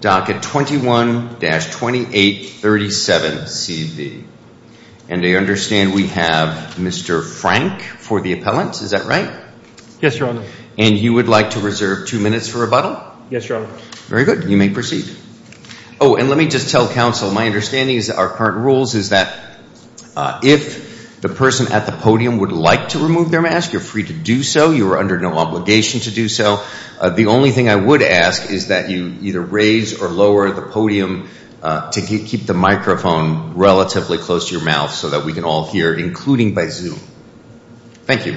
docket 21-2837CV. And I understand we have Mr. Frank for the appellant. Is that right? Yes, Your Honor. And you would like to reserve two minutes for rebuttal? Yes, Your Honor. Very good. You may proceed. Oh, and let me just tell counsel my understanding is that our current rules is that if the person at the podium would like to remove their mask, you're free to do so. You are under no obligation to do so. The only thing I would ask is that you either raise or lower the podium to keep the microphone relatively close to your mouth so that we can all hear, including by Zoom. Thank you.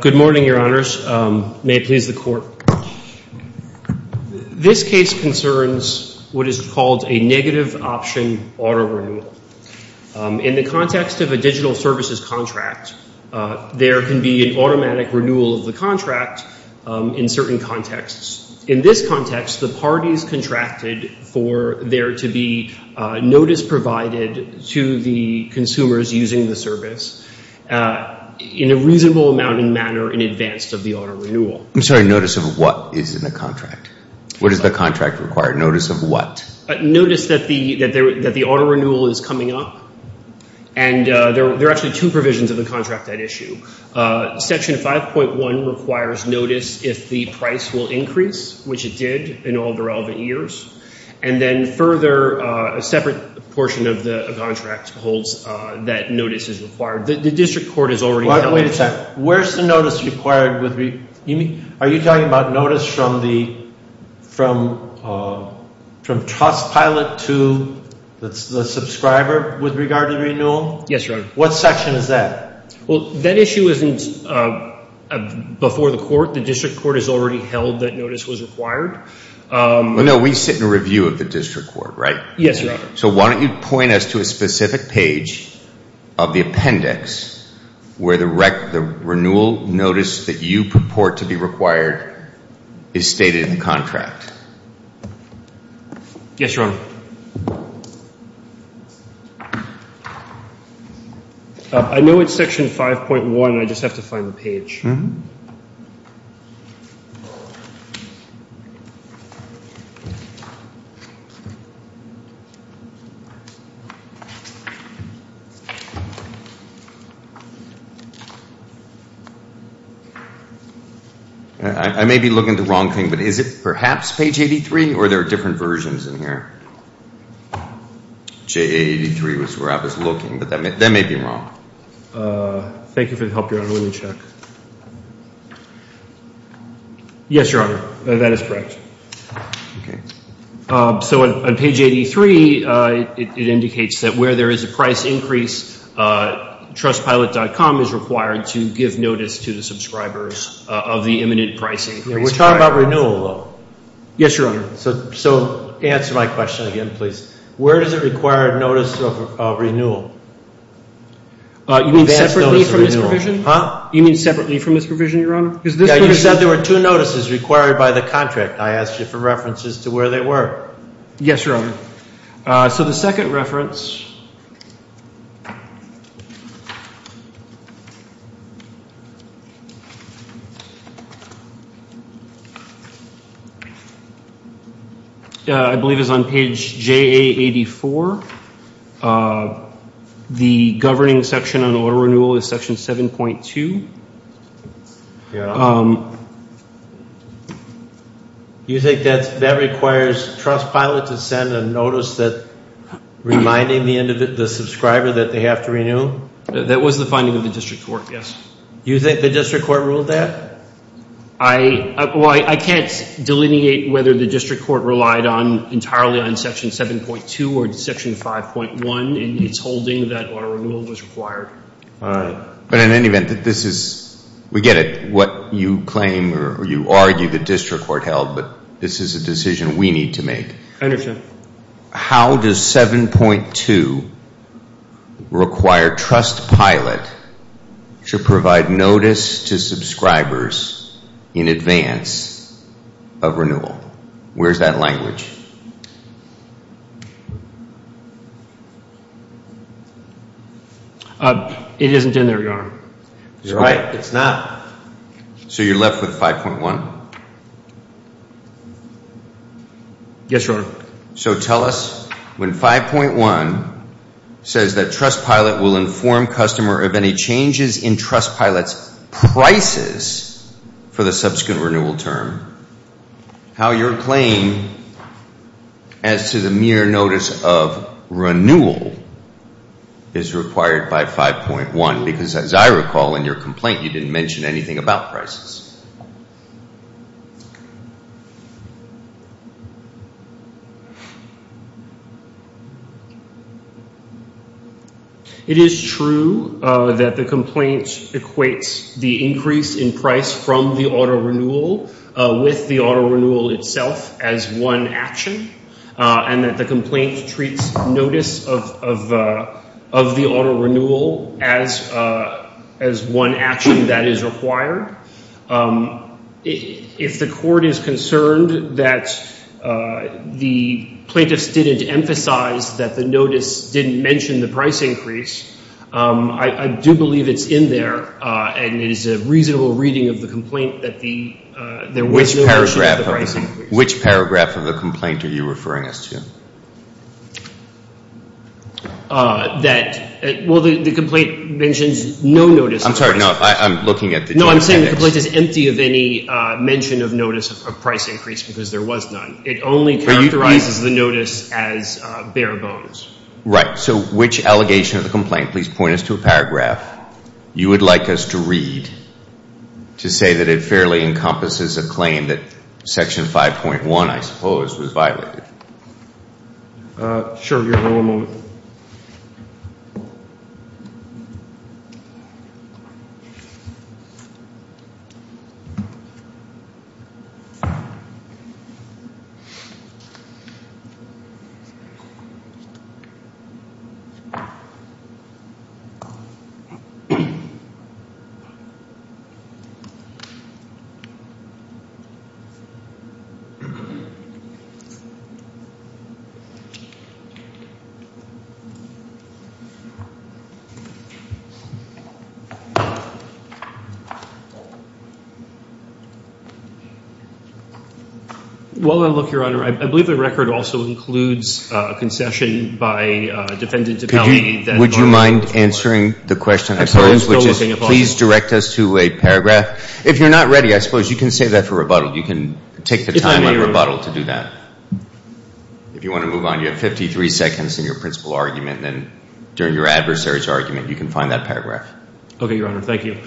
Good morning, Your Honors. May it please the Court. This case concerns what is called a negative option auto renewal. In the context of a digital services contract, there can be an automatic renewal of the contract in certain contexts. In this context, the parties contracted for there to be notice provided to the consumers using the service in a reasonable amount and manner in advance of the auto renewal. I'm sorry. Notice of what is in the contract? What does the contract require? Notice of what? Notice that the auto renewal is coming up. And there are actually two provisions of the contract at issue. Section 5.1 requires notice if the price will increase, which it did in all the relevant years. And then further, a separate portion of the contract holds that notice is required. The District Court has already held that. Wait a second. Where's the notice required? Are you talking about notice from the trust pilot to the subscriber with regard to renewal? Yes, Your Honor. What section is that? Well, that issue isn't before the Court. The District Court has already held that notice was required. No, we sit in review of the District Court, right? Yes, Your Honor. So why don't you point us to a specific page of the appendix where the renewal notice that you purport to be required is stated in the contract? Yes, Your Honor. I know it's Section 5.1. I just have to find the page. I may be looking at the wrong thing, but is it perhaps page 83, or are there different versions in here? JA83 is where I was looking, but that may be wrong. Thank you for the help, Your Honor. Let me check. Yes, Your Honor. That is correct. So on page 83, it indicates that where there is a price increase, trustpilot.com is required to give notice to the subscribers of the imminent pricing. We're talking about renewal, though. Yes, Your Honor. So answer my question again, please. Where does it require notice of renewal? You mean separately from this provision, Your Honor? You said there were two notices required by the contract. I asked you for references to where they were. Yes, Your Honor. So the second reference I believe is on page JA84. The governing section on auto renewal is Section 7.2. You think that requires trustpilot to send a notice reminding the subscriber that they have to renew? That was the finding of the district court, yes. You think the district court ruled that? Well, I can't delineate whether the district court relied entirely on Section 7.2 or Section 5.1 in its holding that auto renewal was required. But in any event, we get it, what you claim or you argue the district court held, but this is a decision we need to make. I understand. Where is that language? It isn't in there, Your Honor. So you're left with 5.1? Yes, Your Honor. So tell us, when 5.1 says that trustpilot will inform customer of any changes in trustpilot's prices for the subsequent renewal term, how your claim as to the mere notice of renewal is required by 5.1? Because as I recall in your complaint, you didn't mention anything about prices. It is true that the complaint equates the increase in price from the auto renewal with the auto renewal itself as one action and that the complaint treats notice of the auto renewal as one action that is required. If the court is concerned that the plaintiffs didn't emphasize that the notice didn't mention the price increase, I do believe it's in there and it is a reasonable reading of the complaint that there was no mention of the price increase. Which paragraph of the complaint are you referring us to? Well, the complaint mentions no notice of price increase. I'm sorry. No, I'm looking at the joint edX. No, I'm saying the complaint is empty of any mention of notice of price increase because there was none. It only characterizes the notice as bare bones. Right. So which allegation of the complaint? Please point us to a paragraph you would like us to read to say that it fairly encompasses a claim that Section 5.1, I suppose, was violated. Sure. Well, if you're not ready, I suppose you can save that for rebuttal. You can take the time on rebuttal to do that. If you want to move on, you have 53 seconds in your principal argument and during your adversary's argument you can find that paragraph. Okay, Your Honor. Thank you.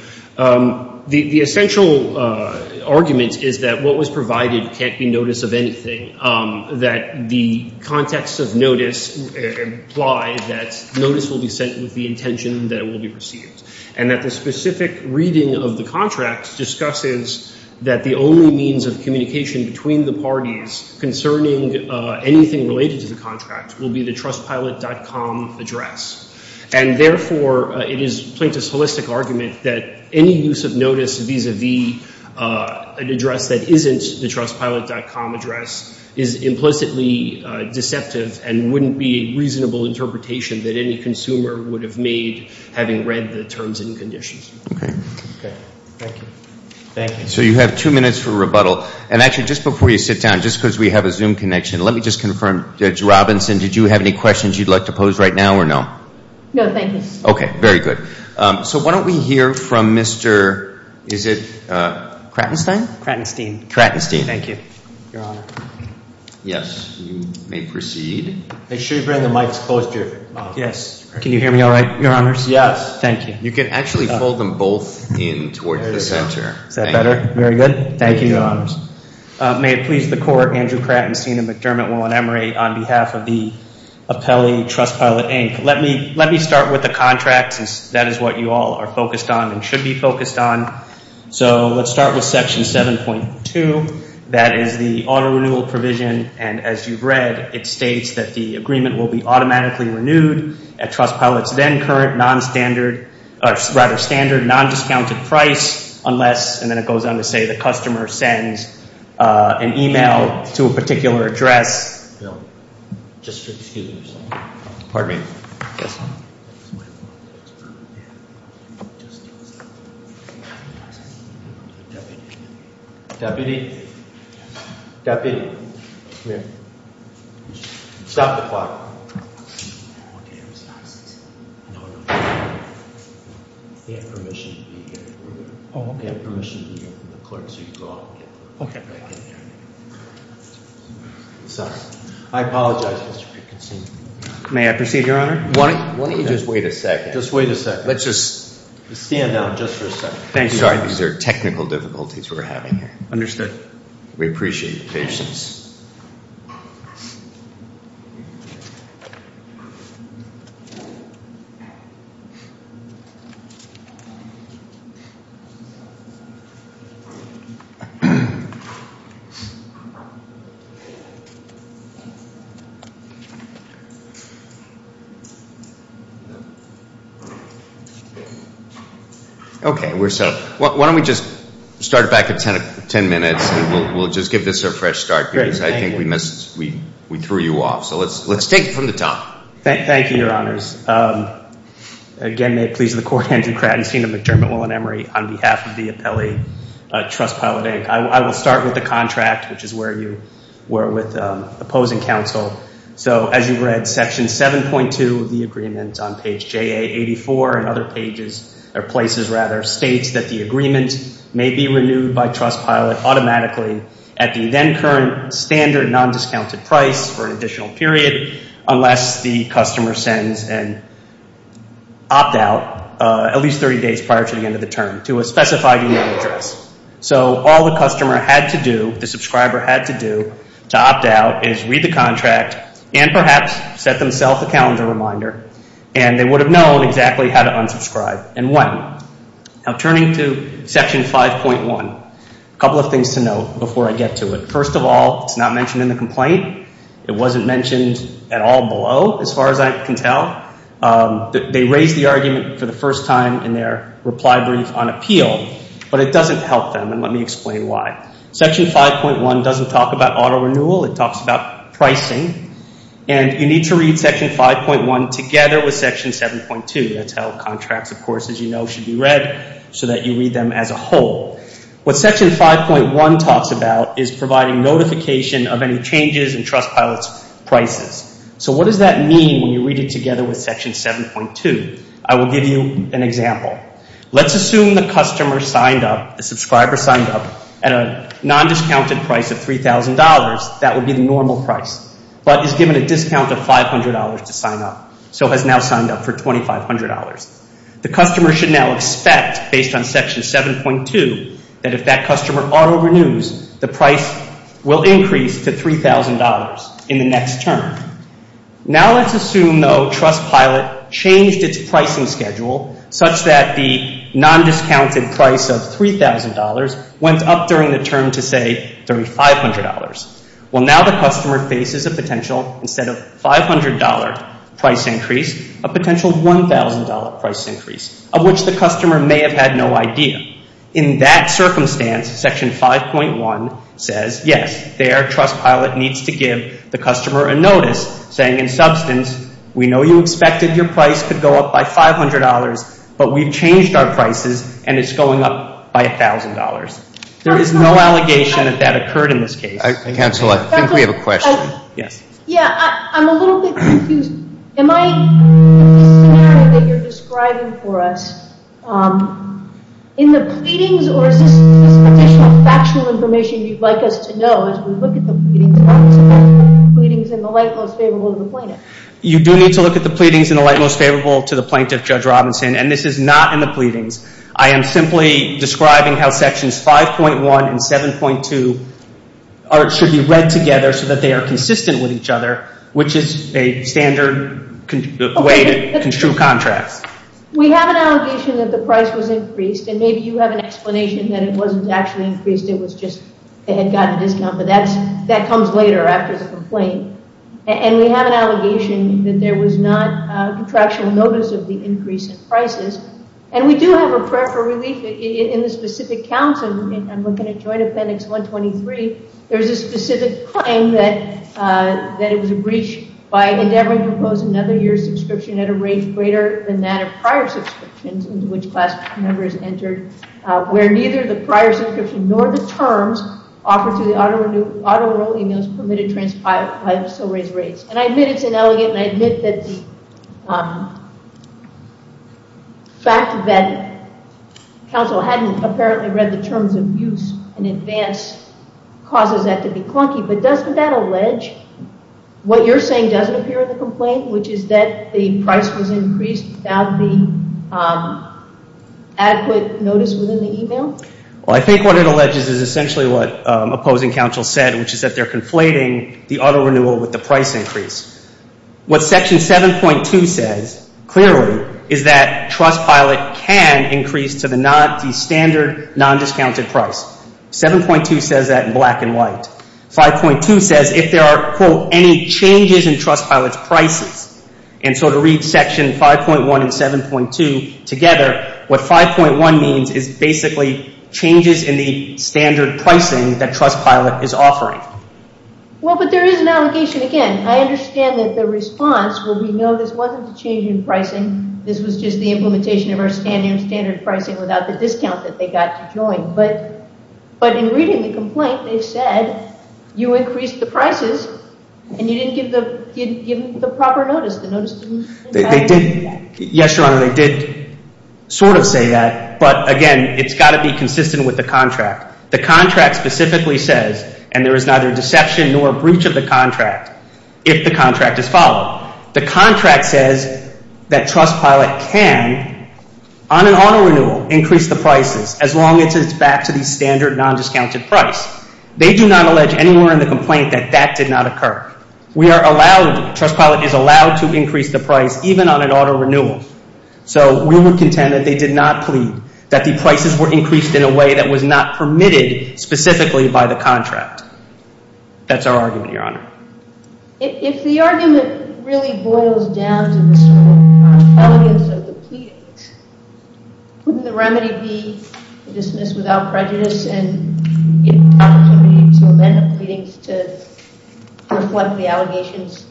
The essential argument is that what was provided can't be notice of anything. That the context of notice implies that notice will be sent with the intention that it will be received. And that the specific reading of the contract discusses that the only means of communication between the parties concerning anything related to the contract will be the Trustpilot.com address. And therefore, it is plaintiff's holistic argument that any use of notice vis-a-vis an address that isn't the Trustpilot.com address is implicitly deceptive and wouldn't be a reasonable interpretation that any consumer would have made having read the terms and conditions. So you have two minutes for rebuttal. And actually just before you sit down, just because we have a Zoom connection, let me just confirm, Judge Robinson, did you have any questions you'd like to pose right now or no? No, thank you. Okay, very good. So why don't we hear from Mr., is it Kratenstein? Kratenstein. Kratenstein, thank you. Your Honor. Yes, you may proceed. Make sure you bring the mics close to your mouth. Yes. Can you hear me all right, Your Honors? Yes. Thank you. You can actually fold them both in towards the center. Is that better? Very good. Thank you, Your Honors. May it please the Court, Andrew Kratenstein and McDermott Will and Emery, on behalf of the Apelli Trustpilot, Inc. Let me start with the contracts. That is what you all are focused on and should be focused on. So let's start with Section 7.2. That is the auto renewal provision. And as you've read, it states that the agreement will be automatically renewed at Trustpilot's then current non-standard, or rather standard non-discounted price unless, and then it goes on to say, the customer sends an email to a particular address. Excuse me. Pardon me. Deputy. Deputy. Deputy, come here. Stop the clock. He had permission to be here. Oh, okay. He had permission to be here from the clerk, so you can go out and get him. Sorry. I apologize, Mr. Kratenstein. May I proceed, Your Honor? Why don't you just wait a second? Just wait a second. Let's just stand down just for a second. Sorry, these are technical difficulties we're having here. Understood. We appreciate your patience. Okay. We're set. Why don't we just start it back at 10 minutes and we'll just give this a fresh start. Great. Thank you. Because I think we threw you off. So let's take it from the top. Thank you, Your Honors. Again, may it please the Court, Andrew Kratenstein of McDermott, Will and Emery, on behalf of the appellee, Trustpilot, Inc. I will start with the contract, which is where you were with opposing counsel. So as you read section 7.2 of the agreement on page JA84 and other pages, or places, rather, states that the agreement may be renewed by Trustpilot automatically at the then current standard non-discounted price for an additional period unless the customer sends an opt-out at least 30 days prior to the end of the term to a specified email address. So all the customer had to do, the subscriber had to do, to opt-out is read the contract and perhaps set themselves a calendar reminder. And they would have known exactly how to unsubscribe and when. Now turning to section 5.1, a couple of things to note before I get to it. First of all, it's not mentioned in the complaint. It wasn't mentioned at all below, as far as I can tell. They raised the argument for the first time in their reply brief on appeal, but it doesn't help them. And let me explain why. Section 5.1 doesn't talk about auto renewal. It talks about pricing. And you need to read section 5.1 together with section 7.2. That's how contracts, of course, as you know, should be read, so that you read them as a whole. What section 5.1 talks about is providing notification of any changes in Trustpilot's prices. So what does that mean when you read it together with section 7.2? I will give you an example. Let's assume the customer signed up, the subscriber signed up at a non-discounted price of $3,000. That would be the normal price, but is given a discount of $500 to sign up, so has now signed up for $2,500. The customer should now expect, based on section 7.2, that if that customer auto renews, the price will increase to $3,000 in the next term. Now let's assume, though, Trustpilot changed its pricing schedule such that the non-discounted price of $3,000 went up during the term to, say, $3,500. Well, now the customer faces a potential, instead of $500 price increase, a potential $1,000 price increase, of which the customer may have had no idea. In that circumstance, section 5.1 says, yes, there Trustpilot needs to give the customer a notice saying, in substance, we know you expected your price to go up by $500, but we've changed our prices and it's going up by $1,000. There is no allegation that that occurred in this case. Counsel, I think we have a question. You do need to look at the pleadings in the light most favorable to the plaintiff, Judge Robinson, and this is not in the pleadings. I am simply describing how sections 5.1 and 7.2 should be read together so that they are consistent with each other, which is a standard way to construe contracts. We have an allegation that the price was increased, and maybe you have an explanation that it wasn't actually increased, it was just they had gotten a discount, but that comes later after the complaint. And we have an allegation that there was not a contractual notice of the increase in prices. And we do have a prayer for relief in the specific counts, and I'm looking at Joint Appendix 123, there's a specific claim that it was a breach by endeavoring to impose another year's subscription at a rate greater than that of prior subscriptions into which class members entered, where neither the prior subscription nor the terms offered through the auto enroll emails permitted transpired by the so-raised rates. And I admit it's inelegant, and I admit that the fact that counsel hadn't apparently read the terms of use in advance causes that to be clunky, but doesn't that allege what you're saying doesn't appear in the complaint, which is that the price was increased without the adequate notice within the email? Well, I think what it alleges is essentially what opposing counsel said, which is that they're conflating the auto renewal with the price increase. What Section 7.2 says, clearly, is that Trustpilot can increase to the standard non-discounted price. 7.2 says that in black and white. 5.2 says if there are, quote, any changes in Trustpilot's prices, and so to read Section 5.1 and 7.2 together, what 5.1 means is basically changes in the standard pricing that Trustpilot is offering. Well, but there is an allegation again. I understand that the response will be, no, this wasn't a change in pricing, this was just the implementation of our standard pricing without the discount that they got to join, but in reading the complaint, they said you increased the prices and you didn't give the proper notice. Yes, Your Honor, they did sort of say that, but again, it's got to be consistent with the contract. The contract specifically says, and there is neither deception nor breach of the contract if the contract is followed. The contract says that Trustpilot can, on an auto renewal, increase the prices as long as it's back to the standard non-discounted price. They do not allege anywhere in the complaint that that did not occur. Trustpilot is allowed to increase the price even on an auto renewal. So we would contend that they did not That's our argument, Your Honor. If the argument really boils down to this sort of elegance of the pleadings, wouldn't the remedy be to dismiss without prejudice and get an opportunity to amend the pleadings to reflect the allegations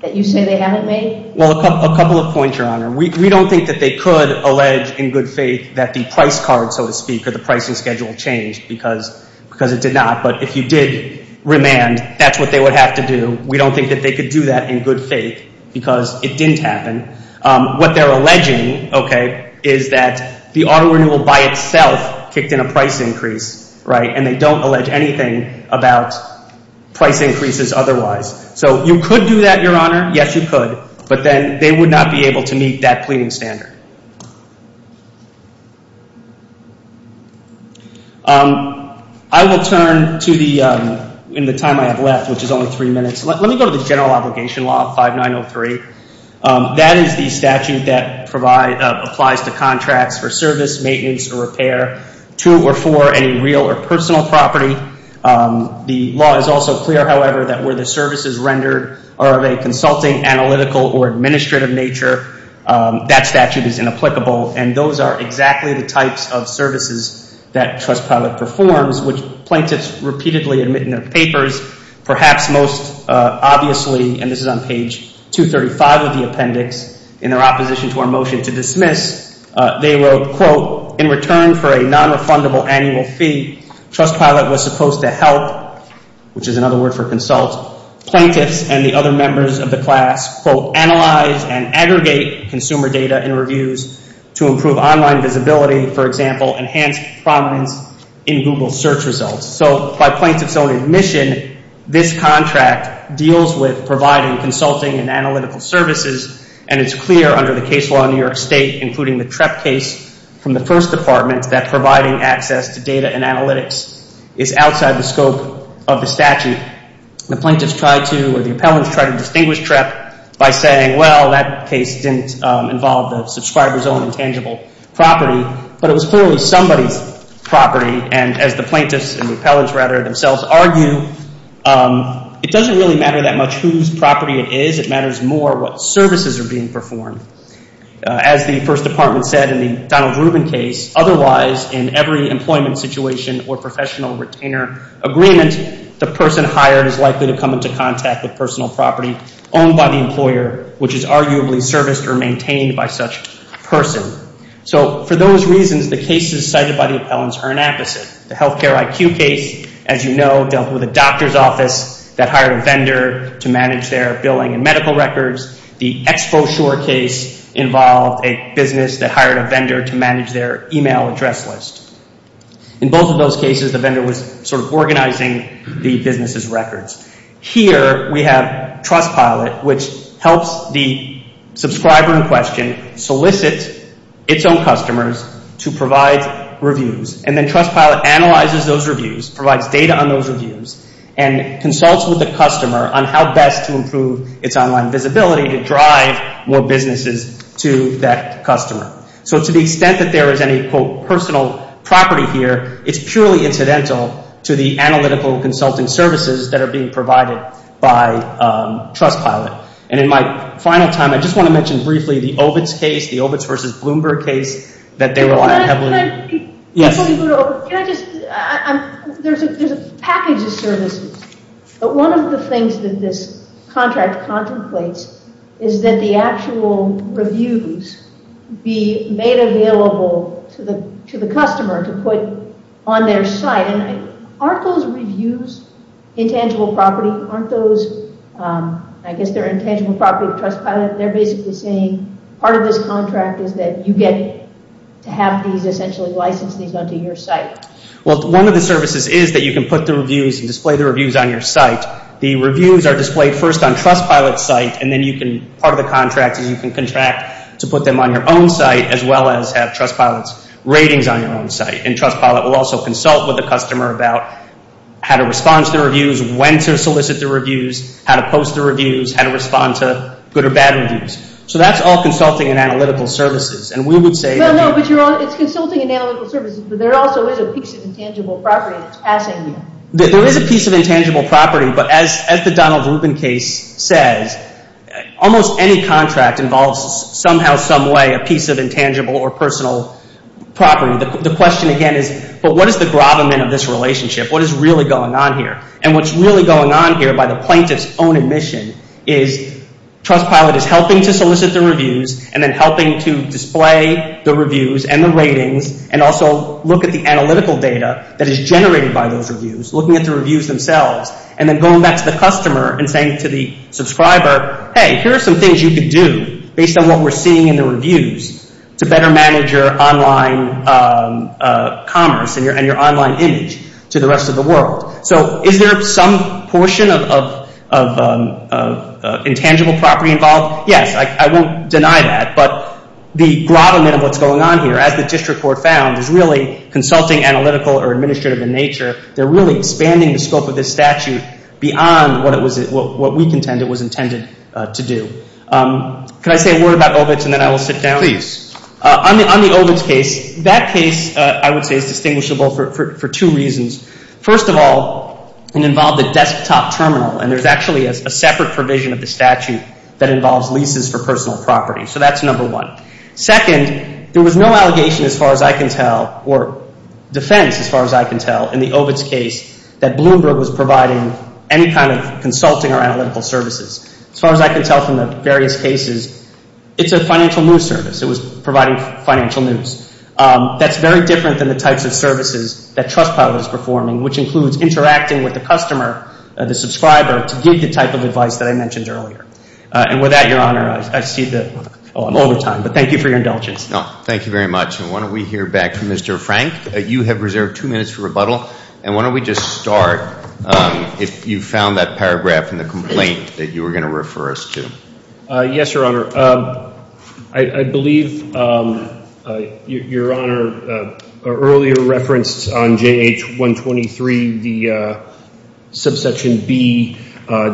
that you say they haven't made? Well, a couple of points, Your Honor. We don't think that they could allege in good faith that the price card, so to speak, or the pricing schedule changed because it did not. But if you did remand, that's what they would have to do. We don't think that they could do that in good faith because it didn't happen. What they're alleging is that the auto renewal by itself kicked in a price increase. And they don't allege anything about price increases otherwise. So you could do that, Your Honor. Yes, you could. But then they would not be able to meet that pleading standard. I will turn to the time I have left, which is only three minutes. Let me go to the general obligation law, 5903. That is the statute that applies to contracts for service, maintenance, or repair to or for any real or personal property. The law is also clear, however, that where the services rendered are of a consulting, analytical, or administrative nature, that statute is inapplicable. And those are exactly the types of services that Trust Pilot performs, which plaintiffs repeatedly admit in their papers, perhaps most obviously, and this is on page 235 of the appendix, in their opposition to our motion to dismiss, they wrote, quote, in return for a nonrefundable annual fee, Trust Pilot was supposed to help, which is another word for consult, plaintiffs and the other members of the class, quote, analyze and aggregate consumer data and reviews to improve online visibility, for example, enhance prominence in Google search results. So by plaintiffs' own admission, this contract deals with providing consulting and analytical services, and it's clear under the case law in New York State, including the TREP case from the First Department, that providing access to data and analytics is outside the scope of the statute. The plaintiffs tried to, or the appellants tried to distinguish TREP by saying, well, that case didn't involve the TREP, and the appellants rather themselves argue, it doesn't really matter that much whose property it is, it matters more what services are being performed. As the First Department said in the Donald Rubin case, otherwise, in every employment situation or professional retainer agreement, the person hired is likely to come into contact with personal property owned by the employer, which is arguably serviced or maintained by such a person. So for those reasons, the cases cited by the appellants are an opposite. The healthcare IQ case, as you know, dealt with a doctor's office that hired a vendor to manage their billing and medical records. The Expo Shore case involved a business that hired a vendor to manage their email address list. In both of those cases, the vendor was sort of organizing the business's records. Here, we have Trustpilot, which helps the subscriber in question solicit its own customers to provide reviews, and then Trustpilot analyzes those reviews, provides data on those reviews, and consults with the customer on how best to improve its online visibility to drive more businesses to that customer. So to the extent that there is any quote, personal property here, it's purely incidental to the analytical consulting services that are being provided by Trustpilot. And in my final time, I just want to mention briefly the Ovitz case, the Ovitz v. Bloomberg case that they relied heavily on. There's a package of services, but one of the things that this contract contemplates is that the actual reviews be made available to the customer to put on their site. And aren't those reviews intangible property? Aren't those, I guess they're intangible property of Trustpilot? They're basically saying part of this contract is that you get to have these essentially license these onto your site. Well, one of the services is that you can put the reviews and display the reviews on your site. The reviews are displayed first on Trustpilot's site, and then part of the contract is you can contract to put them on your own site, as well as have Trustpilot's ratings on your own site. And Trustpilot will also consult with the customer about how to respond to the reviews, when to solicit the reviews, how to post the reviews, how to respond to good or bad reviews. So that's all consulting and analytical services. And we would say... No, no, but it's consulting and analytical services, but there also is a piece of intangible property that's passing you. There is a piece of intangible property, but as the Donald Rubin case says, almost any contract involves somehow, some way, a piece of intangible or personal property. The question again is, but what is the gravamen of this relationship? What is really going on here? And what's really going on here, by the plaintiff's own admission, is Trustpilot is helping to solicit the reviews, and then helping to display the reviews and the ratings, and also look at the analytical data that is generated by those reviews, looking at the reviews themselves, and then going back to the customer and saying to the subscriber, hey, here are some things you could do, based on what we're seeing in the reviews, to better manage your online commerce and your online image to the rest of the world. So is there some portion of intangible property involved? Yes, I won't deny that, but the gravamen of what's going on here, as the District Court found, is really consulting, analytical, or administrative in nature. They're really expanding the scope of this statute beyond what we contend it was intended to do. Could I say a word about OVITS, and then I will sit down? Please. On the OVITS case, that case, I would say, is distinguishable for two reasons. First of all, it involved a desktop terminal, and there's actually a separate provision of the statute that involves leases for personal property. So that's number one. Second, there was no allegation, as far as I can tell, or defense, as far as I can tell, in the OVITS case that Bloomberg was providing any kind of consulting or analytical services. As far as I can tell from the various cases, it's a financial news service. It was providing financial news. That's very different than the types of services that Trustpilot is performing, which includes interacting with the customer, the subscriber, to give the type of advice that I mentioned earlier. And with that, Your Honor, I see that all the time. But thank you for your indulgence. Thank you very much. And why don't we hear back from Mr. Frank. You have reserved two minutes for rebuttal. And why don't we just start, if you found that paragraph in the complaint that you were going to refer us to. Yes, Your Honor. I believe Your Honor, earlier referenced on J.H. 123, the subsection B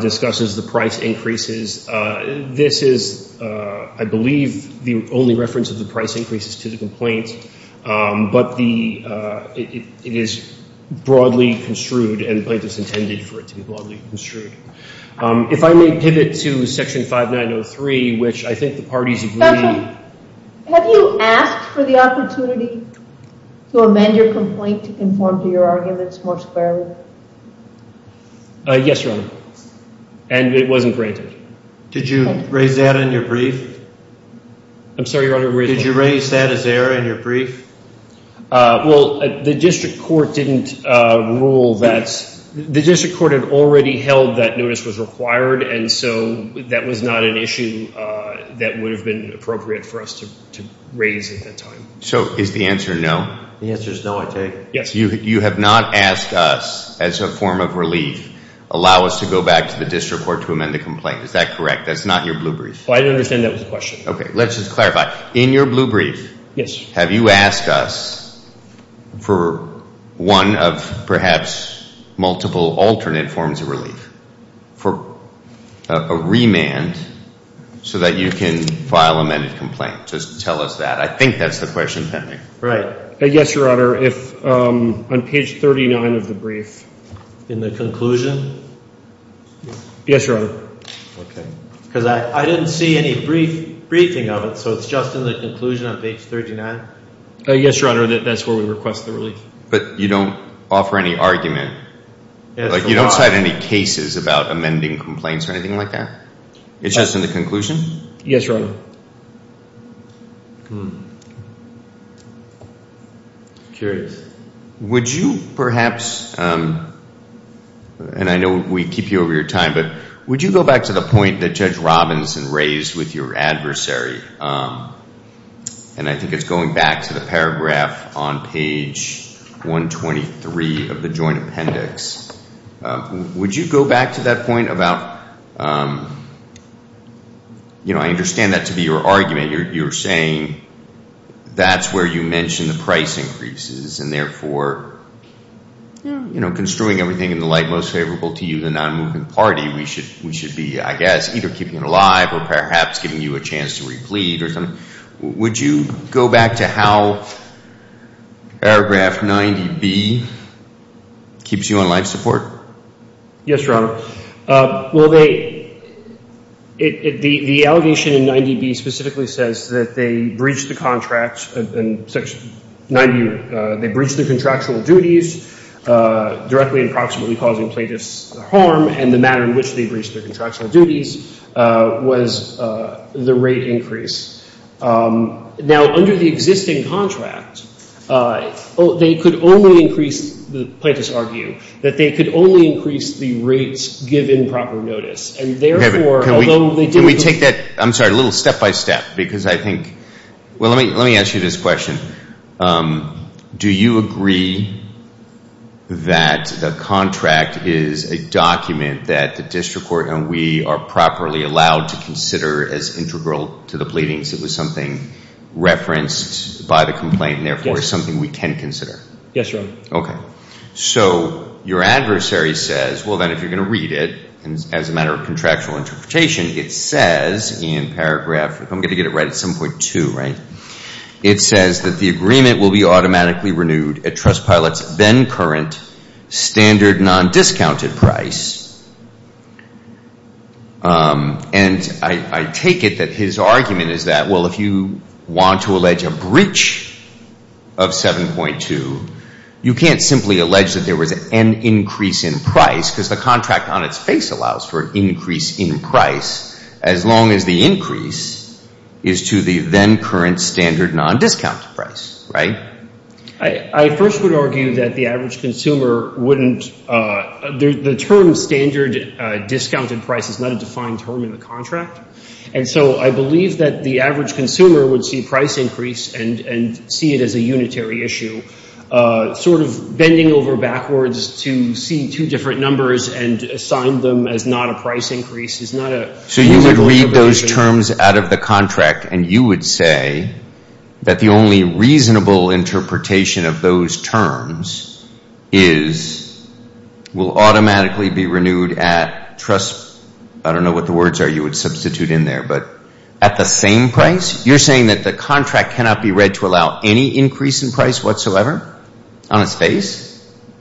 discusses the price increases. This is, I believe, the only reference of the price increases to the complaint. But it is broadly construed, and the plaintiff's intended for it to be broadly construed. If I may pivot to Section 5903, which I think the parties agree. Have you asked for the opportunity to amend your complaint to conform to your arguments more squarely? Yes, Your Honor. And it wasn't granted. Did you raise that in your brief? I'm sorry, Your Honor. Did you raise that as error in your brief? Well, the district court didn't rule that. The district court had already held that notice was required. And so that was not an issue that would have been appropriate for us to raise at that time. So is the answer no? The answer is no, I take it. Yes. You have not asked us, as a form of relief, allow us to go back to the district court to amend the complaint. Is that correct? That's not your blue brief. I understand that was the question. Okay, let's just clarify. In your blue brief, have you asked us for one of perhaps multiple alternate forms of relief for a remand so that you can file amended complaint? Just tell us that. I think that's the question. Right. Yes, Your Honor. If on page 39 of the brief. In the conclusion? Yes, Your Honor. Because I didn't see any briefing of it, so it's just in the conclusion of page 39? Yes, Your Honor, that's where we request the relief. But you don't offer any argument? You don't cite any cases about amending complaints or anything like that? It's just in the conclusion? Yes, Your Honor. Curious. Would you perhaps, and I know we keep you over your time, but would you go back to the point that Judge Robinson raised with your adversary? And I think it's going back to the paragraph on page 123 of the joint appendix. Would you go back to that point about, you know, I understand that to be your argument. You're saying that's where you mention the price increases and therefore, you know, construing everything in the light most favorable to you, the non-moving party, we should be, I guess, either keeping it alive or perhaps giving you a chance to replete or something. Would you go back to how paragraph 90B keeps you on life support? Yes, Your Honor. The allegation in 90B specifically says that they breached the contract, they breached their contractual duties, directly and proximately causing plaintiffs harm, and the matter in which they breached their contractual duties was the rate increase. Now, under the existing contract, they could only increase, the plaintiffs argue, that they could only increase the rates given proper notice. Can we take that, I'm sorry, a little step-by-step? Because I think, well, let me ask you this question. Do you agree that the contract is a document that the district court and we are properly allowed to consider as integral to the pleadings? It was something referenced by the complaint and therefore, it's something we can consider. Yes, Your Honor. Okay. So your adversary says, well, then if you're going to read it, as a matter of contractual interpretation, it says in paragraph, I'm going to get it right at 7.2, right? It says that the agreement will be automatically renewed at Trustpilot's then current standard non-discounted price. And I take it that his argument is that, well, if you want to allege a breach of 7.2, you can't simply allege that there was an increase in price because the contract on its face allows for an increase in price as long as the increase is to the then current standard non-discounted price, right? I first would argue that the average consumer wouldn't, the term standard discounted price is not a defined term in the contract. And so I believe that the average consumer would see price increase and see it as a unitary issue. Sort of bending over backwards to see two different numbers and assign them as not a price increase is not a... So you would read those terms out of the contract and you would say that the only reasonable interpretation of those terms is will automatically be renewed at Trust... I don't know what the words are you would substitute in there, but at the same price? You're saying that the contract cannot be read to allow any increase in price whatsoever on its face?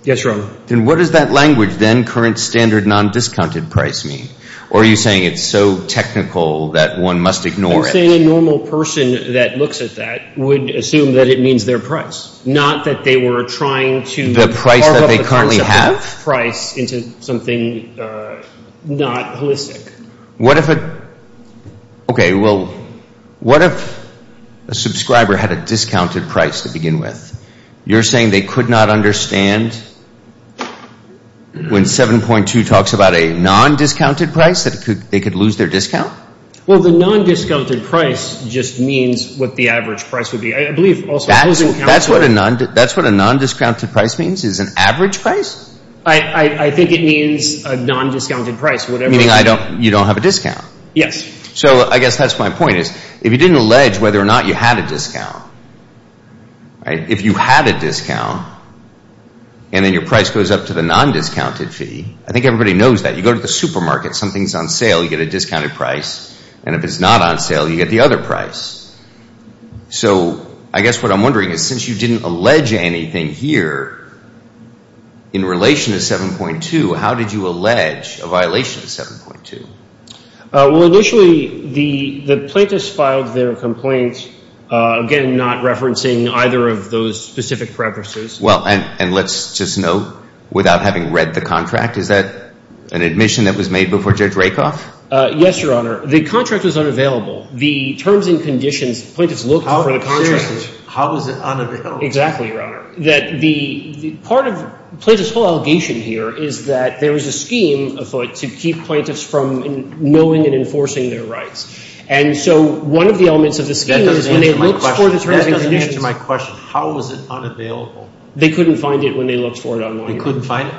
Yes, Your Honor. Then what does that language, then current standard non-discounted price mean? Or are you saying it's so technical that one must ignore it? I'm saying a normal person that looks at that would assume that it means their price, not that they were trying to carve up the concept of price into something not holistic. What if a subscriber had a discounted price to begin with? You're saying they could not understand when 7.2 talks about a non-discounted price that they could lose their discount? Well, the non-discounted price just means what the average price would be. That's what a non-discounted price means? It's an average price? I think it means a non-discounted price. Meaning you don't have a discount? Yes. So I guess that's my point. If you didn't allege whether or not you had a discount, if you had a discount and then your price goes up to the non-discounted fee, I think everybody knows that. You go to the supermarket, something's on sale, you get a discounted price. And if it's not on sale, you get the other price. So I guess what I'm wondering is since you didn't allege anything here in relation to 7.2, how did you allege a violation of 7.2? Well, initially, the plaintiffs filed their complaint, again, not referencing either of those specific premises. Well, and let's just note, without having read the contract, is that an admission that was made before Judge Rakoff? Yes, Your Honor. The contract was unavailable. The terms and conditions, the plaintiffs looked for the contract. How was it unavailable? Exactly, Your Honor. Part of the plaintiff's whole allegation here is that there was a scheme afoot to keep plaintiffs from knowing and enforcing their rights. That doesn't answer my question. How was it unavailable? They couldn't find it.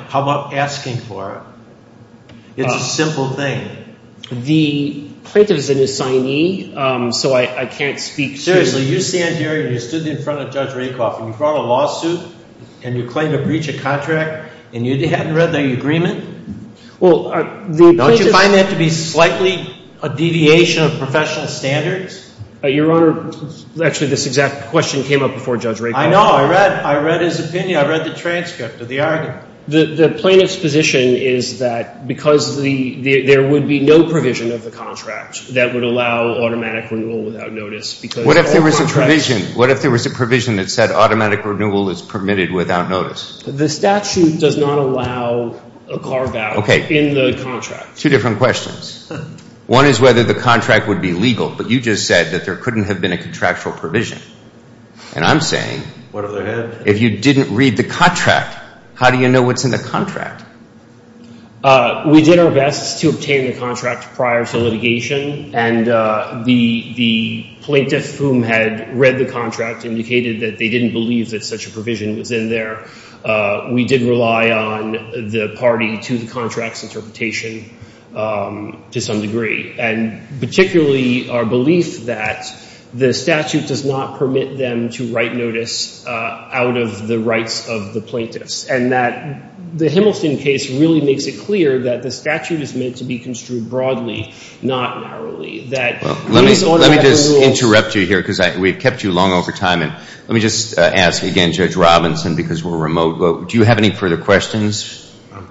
How about asking for it? It's a simple thing. The plaintiff is an assignee, so I can't speak to... Seriously, you stand here and you stood in front of Judge Rakoff and you brought a lawsuit and you claim to breach a contract and you hadn't read the agreement? Don't you find that to be slightly a deviation of professional standards? Your Honor, actually, this exact question came up before Judge Rakoff. I know. I read his opinion. I read the transcript of the argument. The plaintiff's position is that because there would be no provision of the contract that would allow automatic renewal without notice. What if there was a provision? What if there was a provision that said automatic renewal is permitted without notice? The statute does not allow a carve-out in the contract. Two different questions. One is whether the contract would be legal, but you just said that there couldn't have been a contractual provision. And I'm saying, if you didn't read the contract, how do you know what's in the contract? We did our best to obtain the contract prior to litigation, and the plaintiff whom had read the contract indicated that they didn't believe that such a provision was in there. We did rely on the party to the contract's interpretation to some degree, and particularly our belief that the statute does not permit them to write notice out of the rights of the plaintiffs, and that the Himmelsden case really makes it clear that the statute is meant to be construed broadly, not narrowly. Let me just interrupt you here, because we've kept you long over time. Let me just ask again, Judge Robinson, because we're remote, do you have any further questions?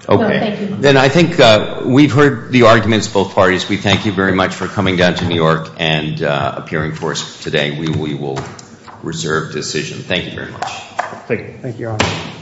Then I think we've heard the arguments of both parties. We thank you very much for coming down to New York and appearing for us today. We will reserve decision. Thank you very much.